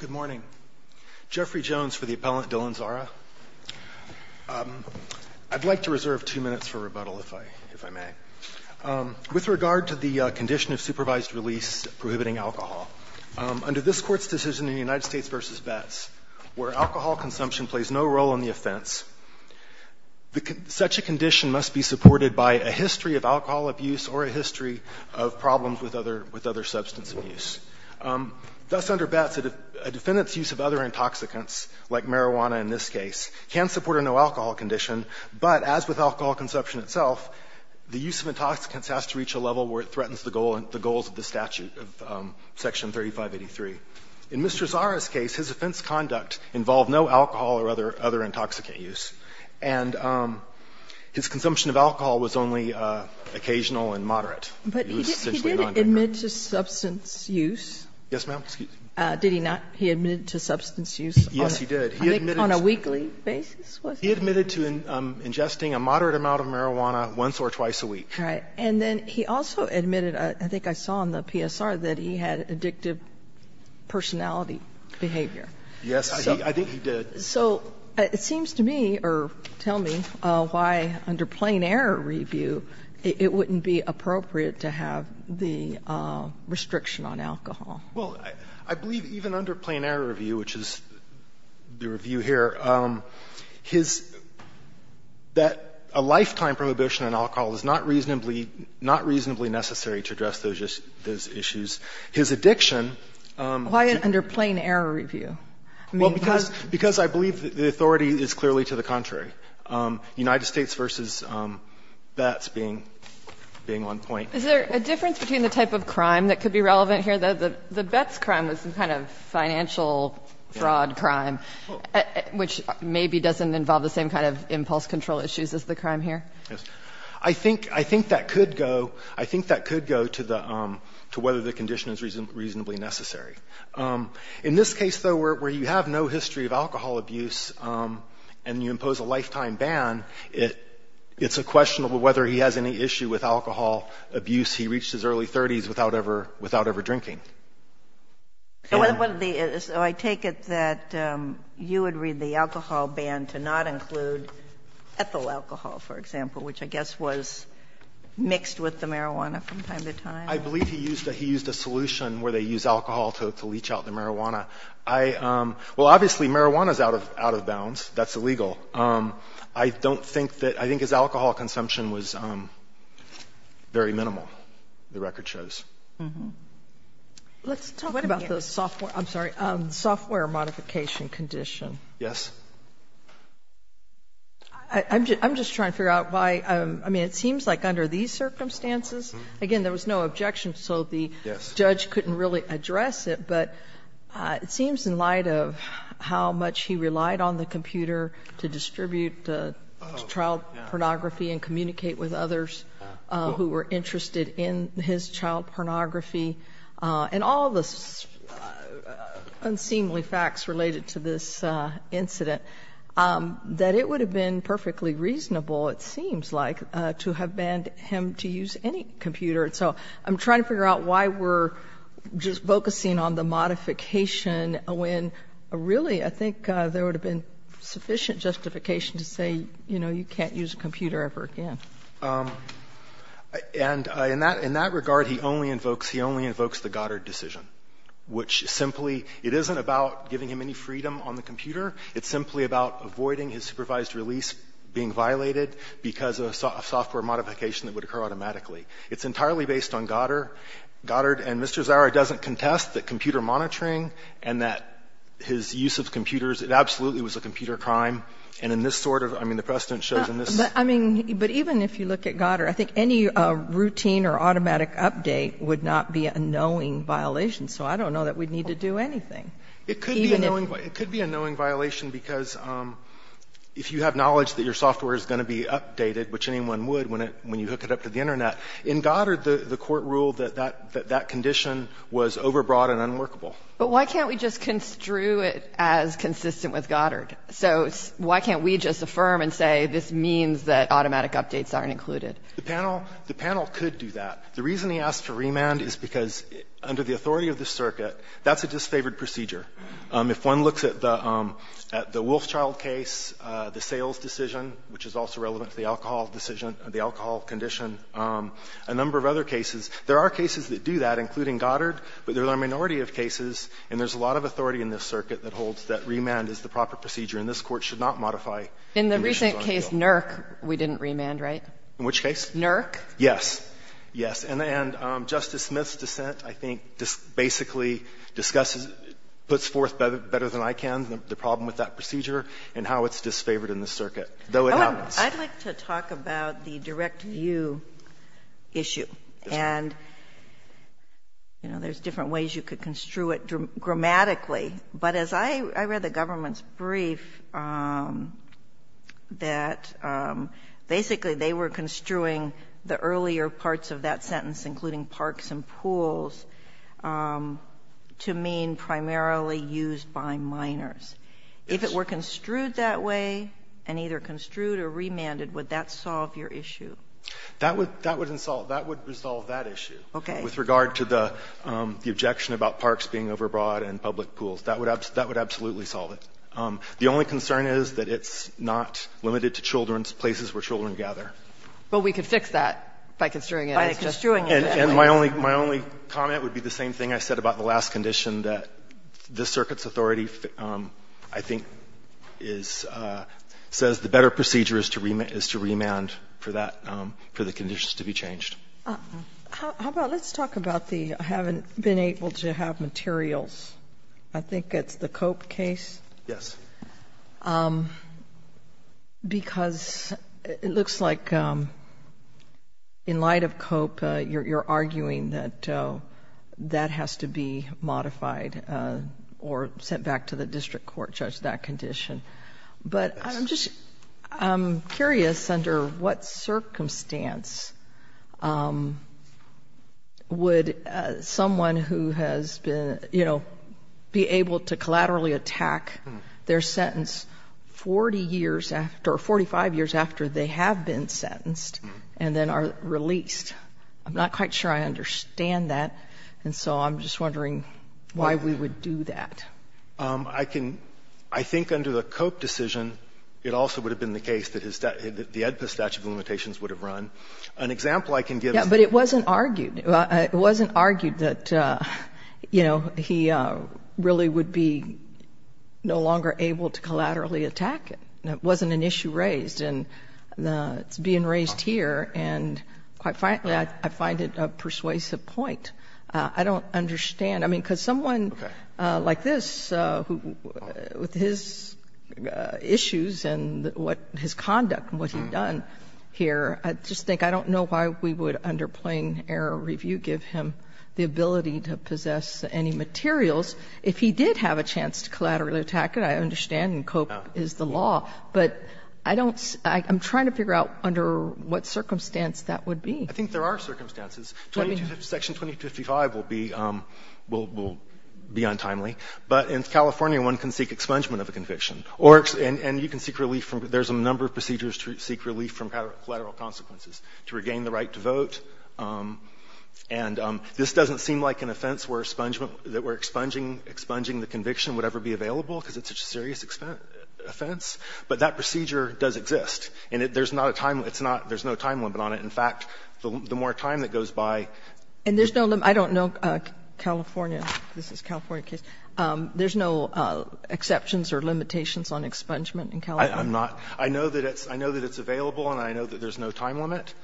Good morning. Jeffrey Jones for the appellant, Dylan Zara. I'd like to reserve two minutes for rebuttal, if I may. With regard to the condition of supervised release prohibiting alcohol, under this Court's decision in the United States v. Betts, where alcohol consumption plays no role in the offense, such a condition must be supported by a history of alcohol abuse or a history of problems with other substance abuse. Thus, under Betts, a defendant's use of other intoxicants, like marijuana in this case, can support a no-alcohol condition, but as with alcohol consumption itself, the use of intoxicants has to reach a level where it threatens the goals of the statute of Section 3583. In Mr. Zara's case, his offense conduct involved no alcohol or other intoxicant use, and his consumption of alcohol was only occasional and moderate. He was essentially a non-drinker. He didn't admit to substance use? Yes, ma'am. Did he not? He admitted to substance use on a weekly basis? He admitted to ingesting a moderate amount of marijuana once or twice a week. Right. And then he also admitted, I think I saw on the PSR, that he had addictive personality behavior. Yes, I think he did. So it seems to me, or tell me, why under plain error review, it wouldn't be appropriate to have the restriction on alcohol. Well, I believe even under plain error review, which is the review here, his – that a lifetime prohibition on alcohol is not reasonably – not reasonably necessary to address those issues. His addiction – Why under plain error review? Well, because I believe the authority is clearly to the contrary. United States v. Betts being on point. Is there a difference between the type of crime that could be relevant here? The Betts crime was some kind of financial fraud crime, which maybe doesn't involve the same kind of impulse control issues as the crime here. Yes. I think that could go – I think that could go to the – to whether the condition is reasonably necessary. In this case, though, where you have no history of alcohol abuse and you impose a lifetime ban, it's a question of whether he has any issue with alcohol abuse. He reached his early 30s without ever – without ever drinking. And – So what the – so I take it that you would read the alcohol ban to not include ethyl alcohol, for example, which I guess was mixed with the marijuana from time to time? I believe he used a – he used a solution where they use alcohol to leach out the marijuana. I – well, obviously, marijuana is out of – out of bounds. That's illegal. I don't think that – I think his alcohol consumption was very minimal, the record shows. Let's talk about the software – I'm sorry – software modification condition. Yes. I'm just trying to figure out why – I mean, it seems like under these circumstances, again, there was no objection, so the judge couldn't really address it, but it seems in light of how much he relied on the computer to distribute child pornography and communicate with others who were interested in his child pornography and all the unseemly facts related to this incident, that it would have been perfectly reasonable, it seems like, to have banned him to use any computer. And so I'm trying to figure out why we're just focusing on the modification when, really, I think there would have been sufficient justification to say, you know, you can't use a computer ever again. And in that – in that regard, he only invokes – he only invokes the Goddard decision, which simply – it isn't about giving him any freedom on the computer. It's simply about avoiding his supervised release being violated because of a software modification that would occur automatically. It's entirely based on Goddard. Goddard and Mr. Zara doesn't contest that computer monitoring and that his use of computers – it absolutely was a computer crime. And in this sort of – I mean, the precedent shows in this – But, I mean, but even if you look at Goddard, I think any routine or automatic update would not be a knowing violation, so I don't know that we'd need to do anything. It could be a knowing – it could be a knowing violation because if you have knowledge that your software is going to be updated, which anyone would when it – when you hook it up to the Internet, in Goddard, the court ruled that that – that that condition was overbroad and unworkable. But why can't we just construe it as consistent with Goddard? So why can't we just affirm and say this means that automatic updates aren't included? The panel – the panel could do that. The reason he asked for remand is because under the authority of the circuit, that's a disfavored procedure. If one looks at the – at the Wolfchild case, the sales decision, which is also relevant to the alcohol decision – the alcohol condition, a number of other cases, there are cases that do that, including Goddard, but there's a minority of cases, and there's a lot of authority in this circuit that holds that remand is the proper procedure, and this Court should not modify conditions on a bill. In the recent case, NERC, we didn't remand, right? In which case? NERC? Yes. Yes. And Justice Smith's dissent, I think, basically discusses – puts forth better than I can the problem with that procedure and how it's disfavored in this circuit, though it happens. I'd like to talk about the direct view issue. And, you know, there's different ways you could construe it grammatically. But as I read the government's brief, that basically they were construing the earlier parts of that sentence, including parks and pools, to mean primarily used by minors. If it were construed that way, and either construed or remanded, would that solve your issue? That would – that would resolve that issue. Okay. With regard to the objection about parks being overbought and public pools, that would absolutely solve it. The only concern is that it's not limited to children's places where children gather. But we could fix that by construing it. By construing it that way. And my only comment would be the same thing I said about the last condition, that this circuit's authority, I think, is – says the better procedure is to remand for that – for the conditions to be changed. How about let's talk about the having been able to have materials. I think it's the Cope case. Yes. Because it looks like in light of Cope, you're arguing that that has to be modified or sent back to the district court, judge, that condition. But I'm just – I'm curious under what circumstance would someone who has been, you know, be able to collaterally attack their sentence 40 years after – or 45 years after they have been sentenced and then are released? I'm not quite sure I understand that. And so I'm just wondering why we would do that. I can – I think under the Cope decision, it also would have been the case that his – that the AEDPA statute of limitations would have run. An example I can give is – But it wasn't argued. It wasn't argued that, you know, he really would be no longer able to collaterally attack it. It wasn't an issue raised. And it's being raised here, and quite frankly, I find it a persuasive point. I don't understand. I mean, because someone like this, who – with his issues and what – his conduct and what he's done here, I just think – I don't know why we would, under plain error review, give him the ability to possess any materials. If he did have a chance to collaterally attack it, I understand and Cope is the law. But I don't – I'm trying to figure out under what circumstance that would be. I think there are circumstances. Section 2255 will be – will be untimely. But in California, one can seek expungement of a conviction, or – and you can seek relief from – there's a number of procedures to seek relief from collateral consequences, to regain the right to vote. And this doesn't seem like an offense where expungement – that we're expunging the conviction would ever be available, because it's such a serious offense. But that procedure does exist. And there's not a time – it's not – there's no time limit on it. In fact, the more time that goes by – And there's no – I don't know California. This is a California case. There's no exceptions or limitations on expungement in California? I'm not – I know that it's – I know that it's available, and I know that there's no time limit.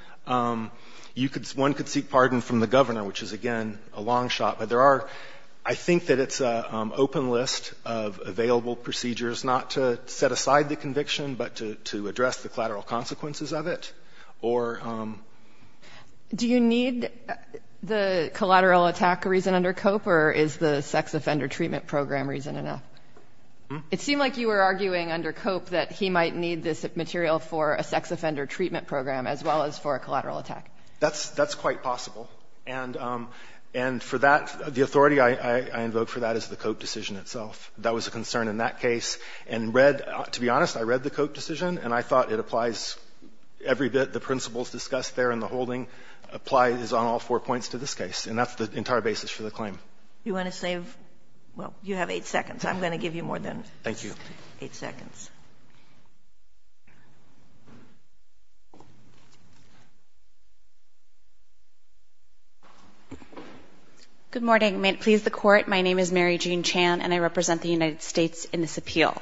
You could – one could seek pardon from the governor, which is, again, a long shot. But there are – I think that it's an open list of available procedures not to set aside the conviction, but to address the collateral consequences of it, or – Do you need the collateral attack reason under Cope, or is the sex offender treatment program reason enough? It seemed like you were arguing under Cope that he might need this material for a sex offender treatment program, as well as for a collateral attack. That's – that's quite possible. And for that, the authority I invoked for that is the Cope decision itself. That was a concern in that case. And read – to be honest, I read the Cope decision, and I thought it applies every bit – the principles discussed there in the holding applies on all four points to this case. And that's the entire basis for the claim. You want to save – well, you have eight seconds. I'm going to give you more than eight seconds. Thank you. Good morning. May it please the Court, my name is Mary Jean Chan, and I represent the United States in this appeal.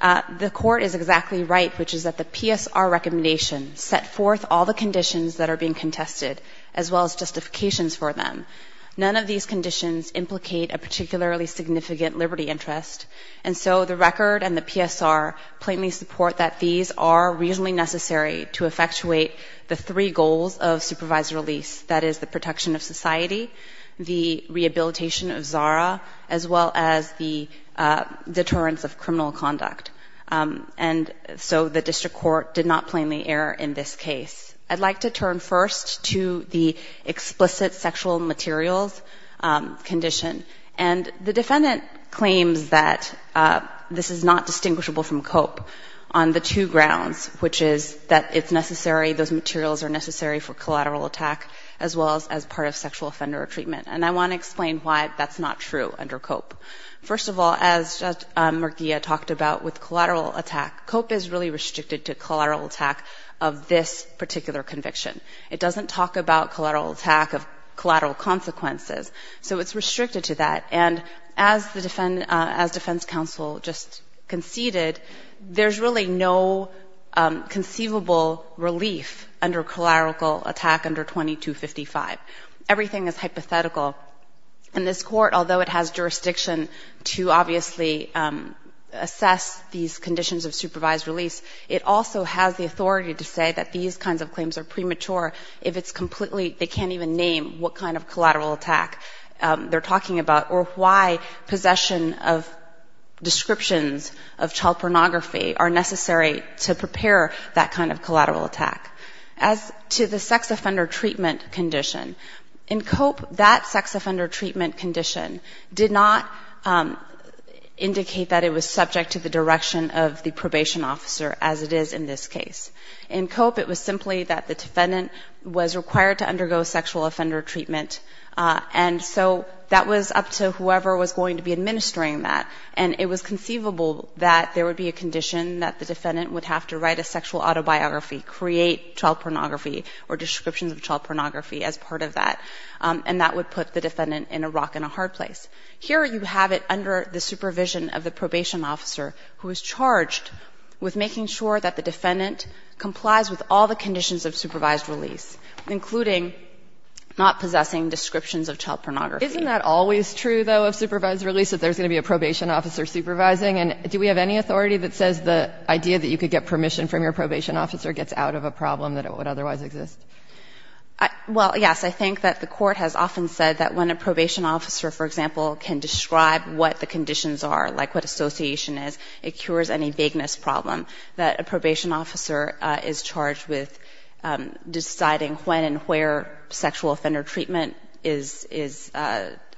The Court is exactly right, which is that the PSR recommendation set forth all the conditions that are being contested, as well as justifications for them. None of these conditions implicate a particularly significant liberty interest. And so the record and the PSR plainly support that these are reasonably necessary to effectuate the three goals of supervised release. That is the protection of society, the rehabilitation of ZARA, as well as the deterrence of criminal conduct. And so the district court did not plainly err in this case. I'd like to turn first to the explicit sexual materials condition. And the defendant claims that this is not distinguishable from COPE on the two grounds, which is that it's necessary – those materials are necessary for collateral attack, as well as as part of sexual offender treatment. And I want to explain why that's not true under COPE. First of all, as Murguia talked about with collateral attack, COPE is really restricted to collateral attack of this particular conviction. It doesn't talk about collateral attack of collateral consequences, so it's restricted to that. And as the – as defense counsel just conceded, there's really no conceivable relief under collateral attack under 2255. Everything is hypothetical. And this court, although it has jurisdiction to obviously assess these conditions of supervised release, it also has the authority to say that these kinds of claims are premature if it's completely – they can't even name what kind of collateral attack they're talking about or why possession of descriptions of child pornography are necessary to prepare that kind of collateral attack. As to the sex offender treatment condition, in COPE, that sex offender treatment condition did not indicate that it was subject to the direction of the probation officer, as it is in this case. In COPE, it was simply that the defendant was required to undergo sexual offender treatment, and so that was up to whoever was going to be administering that. And it was conceivable that there would be a condition that the defendant would have to write a sexual autobiography, create child pornography or descriptions of child pornography as part of that. And that would put the defendant in a rock and a hard place. Here you have it under the supervision of the probation officer who is charged with making sure that the defendant complies with all the conditions of supervised release, including not possessing descriptions of child pornography. Isn't that always true, though, of supervised release, that there's going to be a probation officer supervising? And do we have any authority that says the idea that you could get permission from your probation officer gets out of a problem that would otherwise exist? Well, yes. I think that the court has often said that when a probation officer, for example, can describe what the conditions are, like what association is, it cures any vagueness problem, that a probation officer is charged with deciding when and where sexual offender treatment is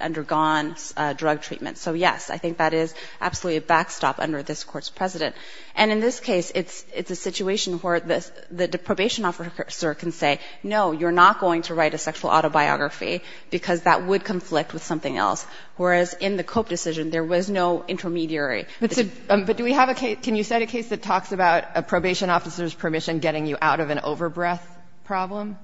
undergone drug treatment. So, yes, I think that is absolutely a backstop under this Court's precedent. And in this case, it's a situation where the probation officer can say, no, you're not going to write a sexual autobiography because that would conflict with something else, whereas in the Cope decision, there was no intermediary. But do we have a case, can you cite a case that talks about a probation officer's permission getting you out of an overbreath problem,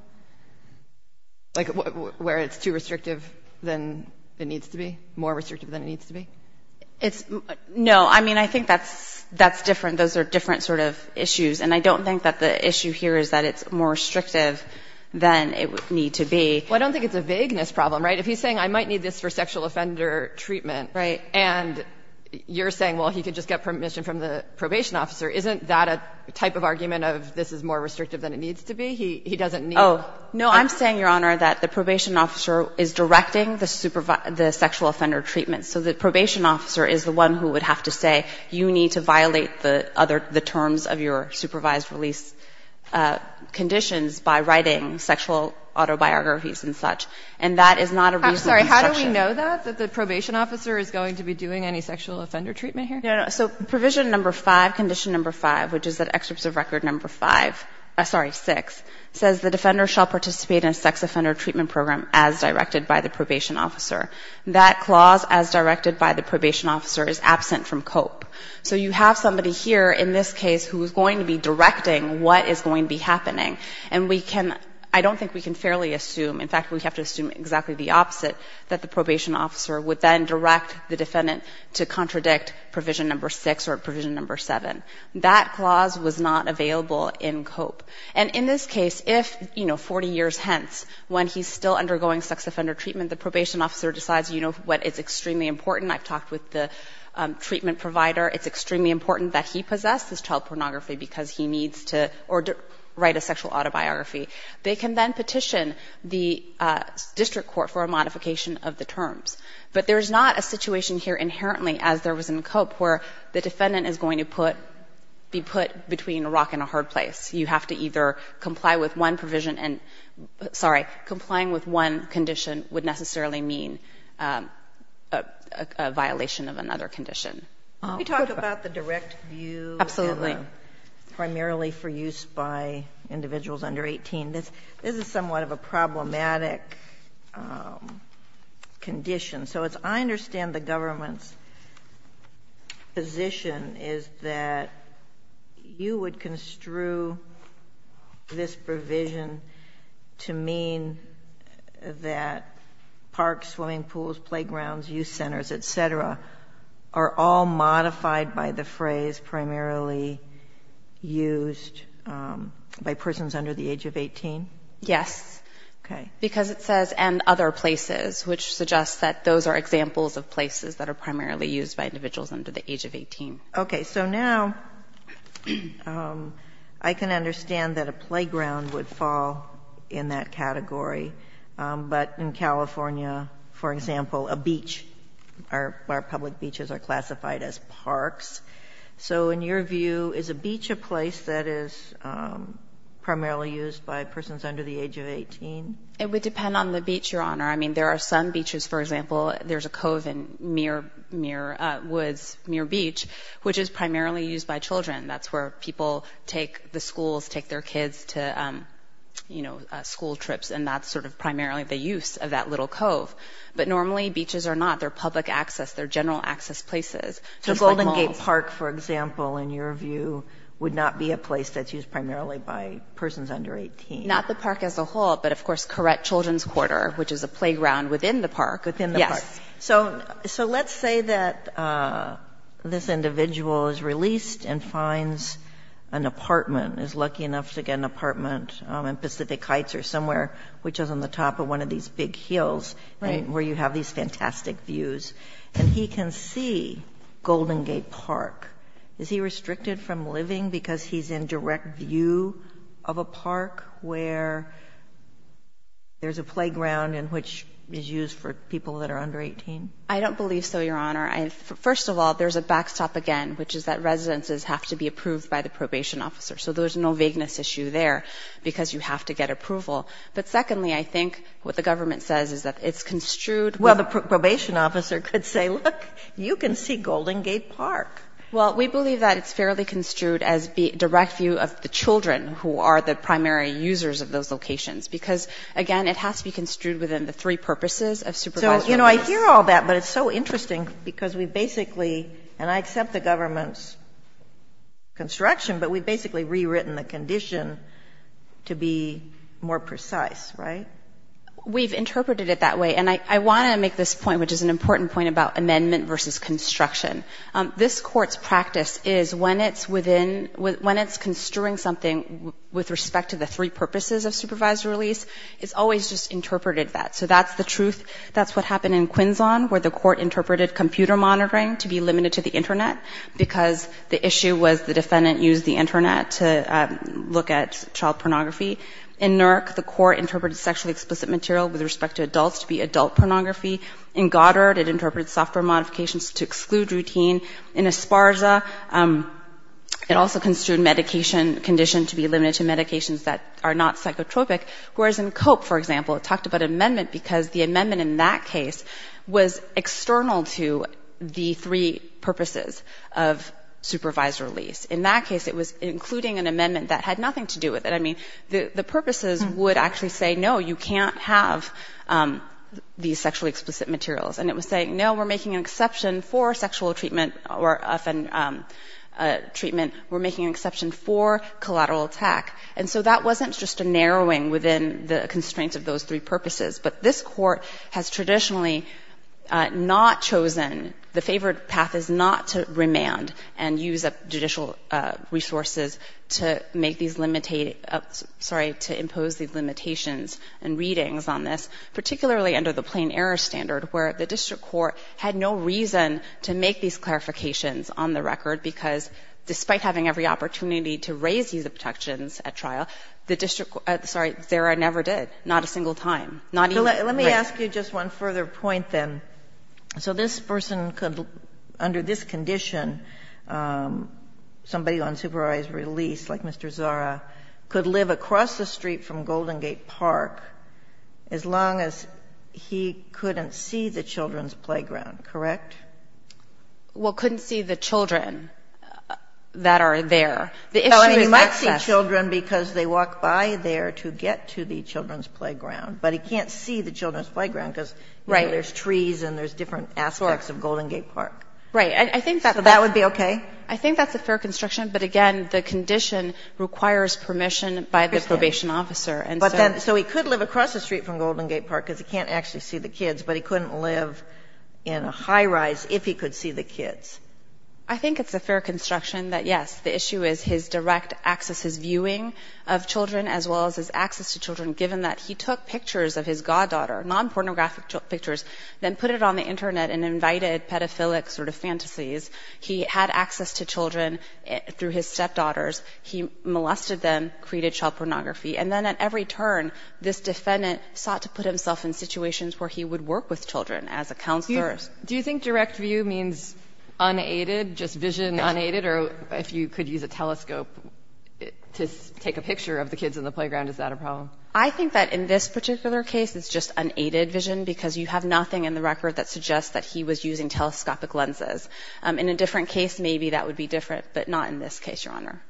like where it's too restrictive than it needs to be, more restrictive than it needs to be? It's no. I mean, I think that's different. Those are different sort of issues. And I don't think that the issue here is that it's more restrictive than it would need to be. Well, I don't think it's a vagueness problem, right? If he's saying I might need this for sexual offender treatment. Right. And you're saying, well, he could just get permission from the probation officer, isn't that a type of argument of this is more restrictive than it needs to be? He doesn't need. Oh, no. I'm saying, Your Honor, that the probation officer is directing the sexual offender treatment. So the probation officer is the one who would have to say, you need to violate the other, the terms of your supervised release conditions by writing sexual autobiographies and such. And that is not a reasonable instruction. I'm sorry, how do we know that, that the probation officer is going to be doing any sexual offender treatment here? No, no. So provision number five, condition number five, which is that excerpts of record number five, sorry, six, says the defender shall participate in a sex offender treatment program as directed by the probation officer. That clause, as directed by the probation officer, is absent from COPE. So you have somebody here in this case who is going to be directing what is going to be happening. And we can, I don't think we can fairly assume, in fact, we have to assume exactly the opposite, that the probation officer would then direct the defendant to contradict provision number six or provision number seven. That clause was not available in COPE. And in this case, if, you know, 40 years hence, when he's still undergoing sex offender treatment, he decides, you know what, it's extremely important. I've talked with the treatment provider. It's extremely important that he possess this child pornography because he needs to, or write a sexual autobiography. They can then petition the district court for a modification of the terms. But there is not a situation here inherently, as there was in COPE, where the defendant is going to put, be put between a rock and a hard place. You have to either comply with one provision and, sorry, complying with one provision would be a violation of another condition. You talked about the direct view. Absolutely. Primarily for use by individuals under 18. This is somewhat of a problematic condition. So as I understand the government's position is that you would construe this provision to mean that parks, swimming pools, playgrounds, youth centers, et cetera, are all modified by the phrase primarily used by persons under the age of 18? Yes. Okay. Because it says, and other places, which suggests that those are examples of places that are primarily used by individuals under the age of 18. Okay. So now I can understand that a playground would fall in that category, but in California, for example, a beach, our public beaches are classified as parks. So in your view, is a beach a place that is primarily used by persons under the age of 18? It would depend on the beach, Your Honor. I mean, there are some beaches, for example, there's a cove in Muir Woods, Muir Woods, which is primarily used by children. That's where people take the schools, take their kids to, you know, school trips, and that's sort of primarily the use of that little cove. But normally beaches are not. They're public access. They're general access places. So Golden Gate Park, for example, in your view, would not be a place that's used primarily by persons under 18? Not the park as a whole, but of course, Corret Children's Quarter, which is a playground within the park. Within the park. Yes. So let's say that this individual is released and finds an apartment, is lucky enough to get an apartment in Pacific Heights or somewhere, which is on the top of one of these big hills where you have these fantastic views, and he can see Golden Gate Park. Is he restricted from living because he's in direct view of a park where there's a playground and which is used for people that are under 18? I don't believe so, Your Honor. First of all, there's a backstop again, which is that residences have to be approved by the probation officer. So there's no vagueness issue there because you have to get approval. But secondly, I think what the government says is that it's construed. Well, the probation officer could say, look, you can see Golden Gate Park. Well, we believe that it's fairly construed as the direct view of the children who are the primary users of those locations because, again, it has to be construed within the three purposes of supervisory office. So, you know, I hear all that, but it's so interesting because we basically, and I accept the government's construction, but we basically rewritten the condition to be more precise, right? We've interpreted it that way. And I want to make this point, which is an important point about amendment versus construction. This Court's practice is when it's within, when it's construing something with respect to the three purposes of supervisory release, it's always just interpreted that. So that's the truth. That's what happened in Quinzon, where the Court interpreted computer monitoring to be limited to the Internet because the issue was the defendant used the Internet to look at child pornography. In NERC, the Court interpreted sexually explicit material with respect to adults to be adult pornography. In Goddard, it interpreted software modifications to exclude routine. In Esparza, it also construed medication, condition to be limited to medications that are not psychotropic. Whereas in COPE, for example, it talked about amendment because the amendment in that case was external to the three purposes of supervisory release. In that case, it was including an amendment that had nothing to do with it. The purposes would actually say, no, you can't have these sexually explicit materials. And it was saying, no, we're making an exception for sexual treatment or, often, treatment. We're making an exception for collateral attack. And so that wasn't just a narrowing within the constraints of those three purposes. But this Court has traditionally not chosen, the favored path is not to remand and use judicial resources to make these, sorry, to impose these limitations and readings on this, particularly under the plain error standard, where the district court had no reason to make these clarifications on the record because, despite having every opportunity to raise these objections at trial, the district, sorry, Zara never did, not a single time. Not even. Sotomayor, let me ask you just one further point, then. So this person could, under this condition, somebody on supervised release, like Mr. Zara, could live across the street from Golden Gate Park as long as he couldn't see the children's playground, correct? Well, couldn't see the children that are there. The issue is access. Well, he might see children because they walk by there to get to the children's playground because there's trees and there's different aspects of Golden Gate Park. Right. I think that's a fair construction, but again, the condition requires permission by the probation officer. So he could live across the street from Golden Gate Park because he can't actually see the kids, but he couldn't live in a high-rise if he could see the kids. I think it's a fair construction that, yes, the issue is his direct access, his viewing of children as well as his access to children, given that he took pictures of his goddaughter, non-pornographic pictures, then put it on the internet and invited pedophilic sort of fantasies. He had access to children through his stepdaughters. He molested them, created child pornography, and then at every turn, this defendant sought to put himself in situations where he would work with children as a counselor. Do you think direct view means unaided, just vision unaided? Or if you could use a telescope to take a picture of the kids in the playground, is that a problem? I think that in this particular case, it's just unaided vision because you have nothing in the record that suggests that he was using telescopic lenses. In a different case, maybe that would be different, but not in this case, Your Honor.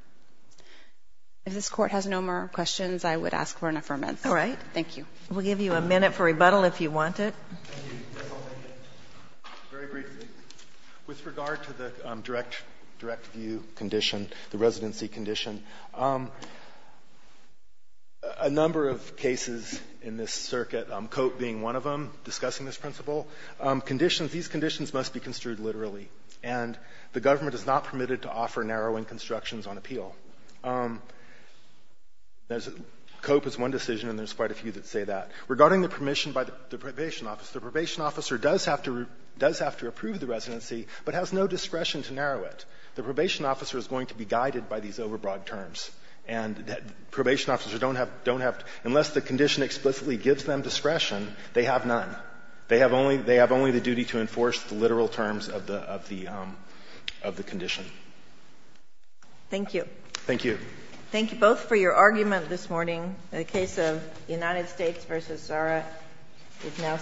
If this Court has no more questions, I would ask for an affirmance. All right. Thank you. We'll give you a minute for rebuttal if you want it. Very briefly, with regard to the direct view condition, the residency condition, a number of cases in this circuit, Cope being one of them, discussing this principle, conditions, these conditions must be construed literally, and the government is not permitted to offer narrowing constructions on appeal. Cope is one decision, and there's quite a few that say that. Regarding the permission by the probation officer, the probation officer does have to approve the residency, but has no discretion to narrow it. The probation officer is going to be guided by these overbroad terms, and probation officers don't have to, unless the condition explicitly gives them discretion, they have none. They have only the duty to enforce the literal terms of the condition. Thank you. Thank you. Thank you both for your argument this morning. The case of United States v. Zara is now submitted.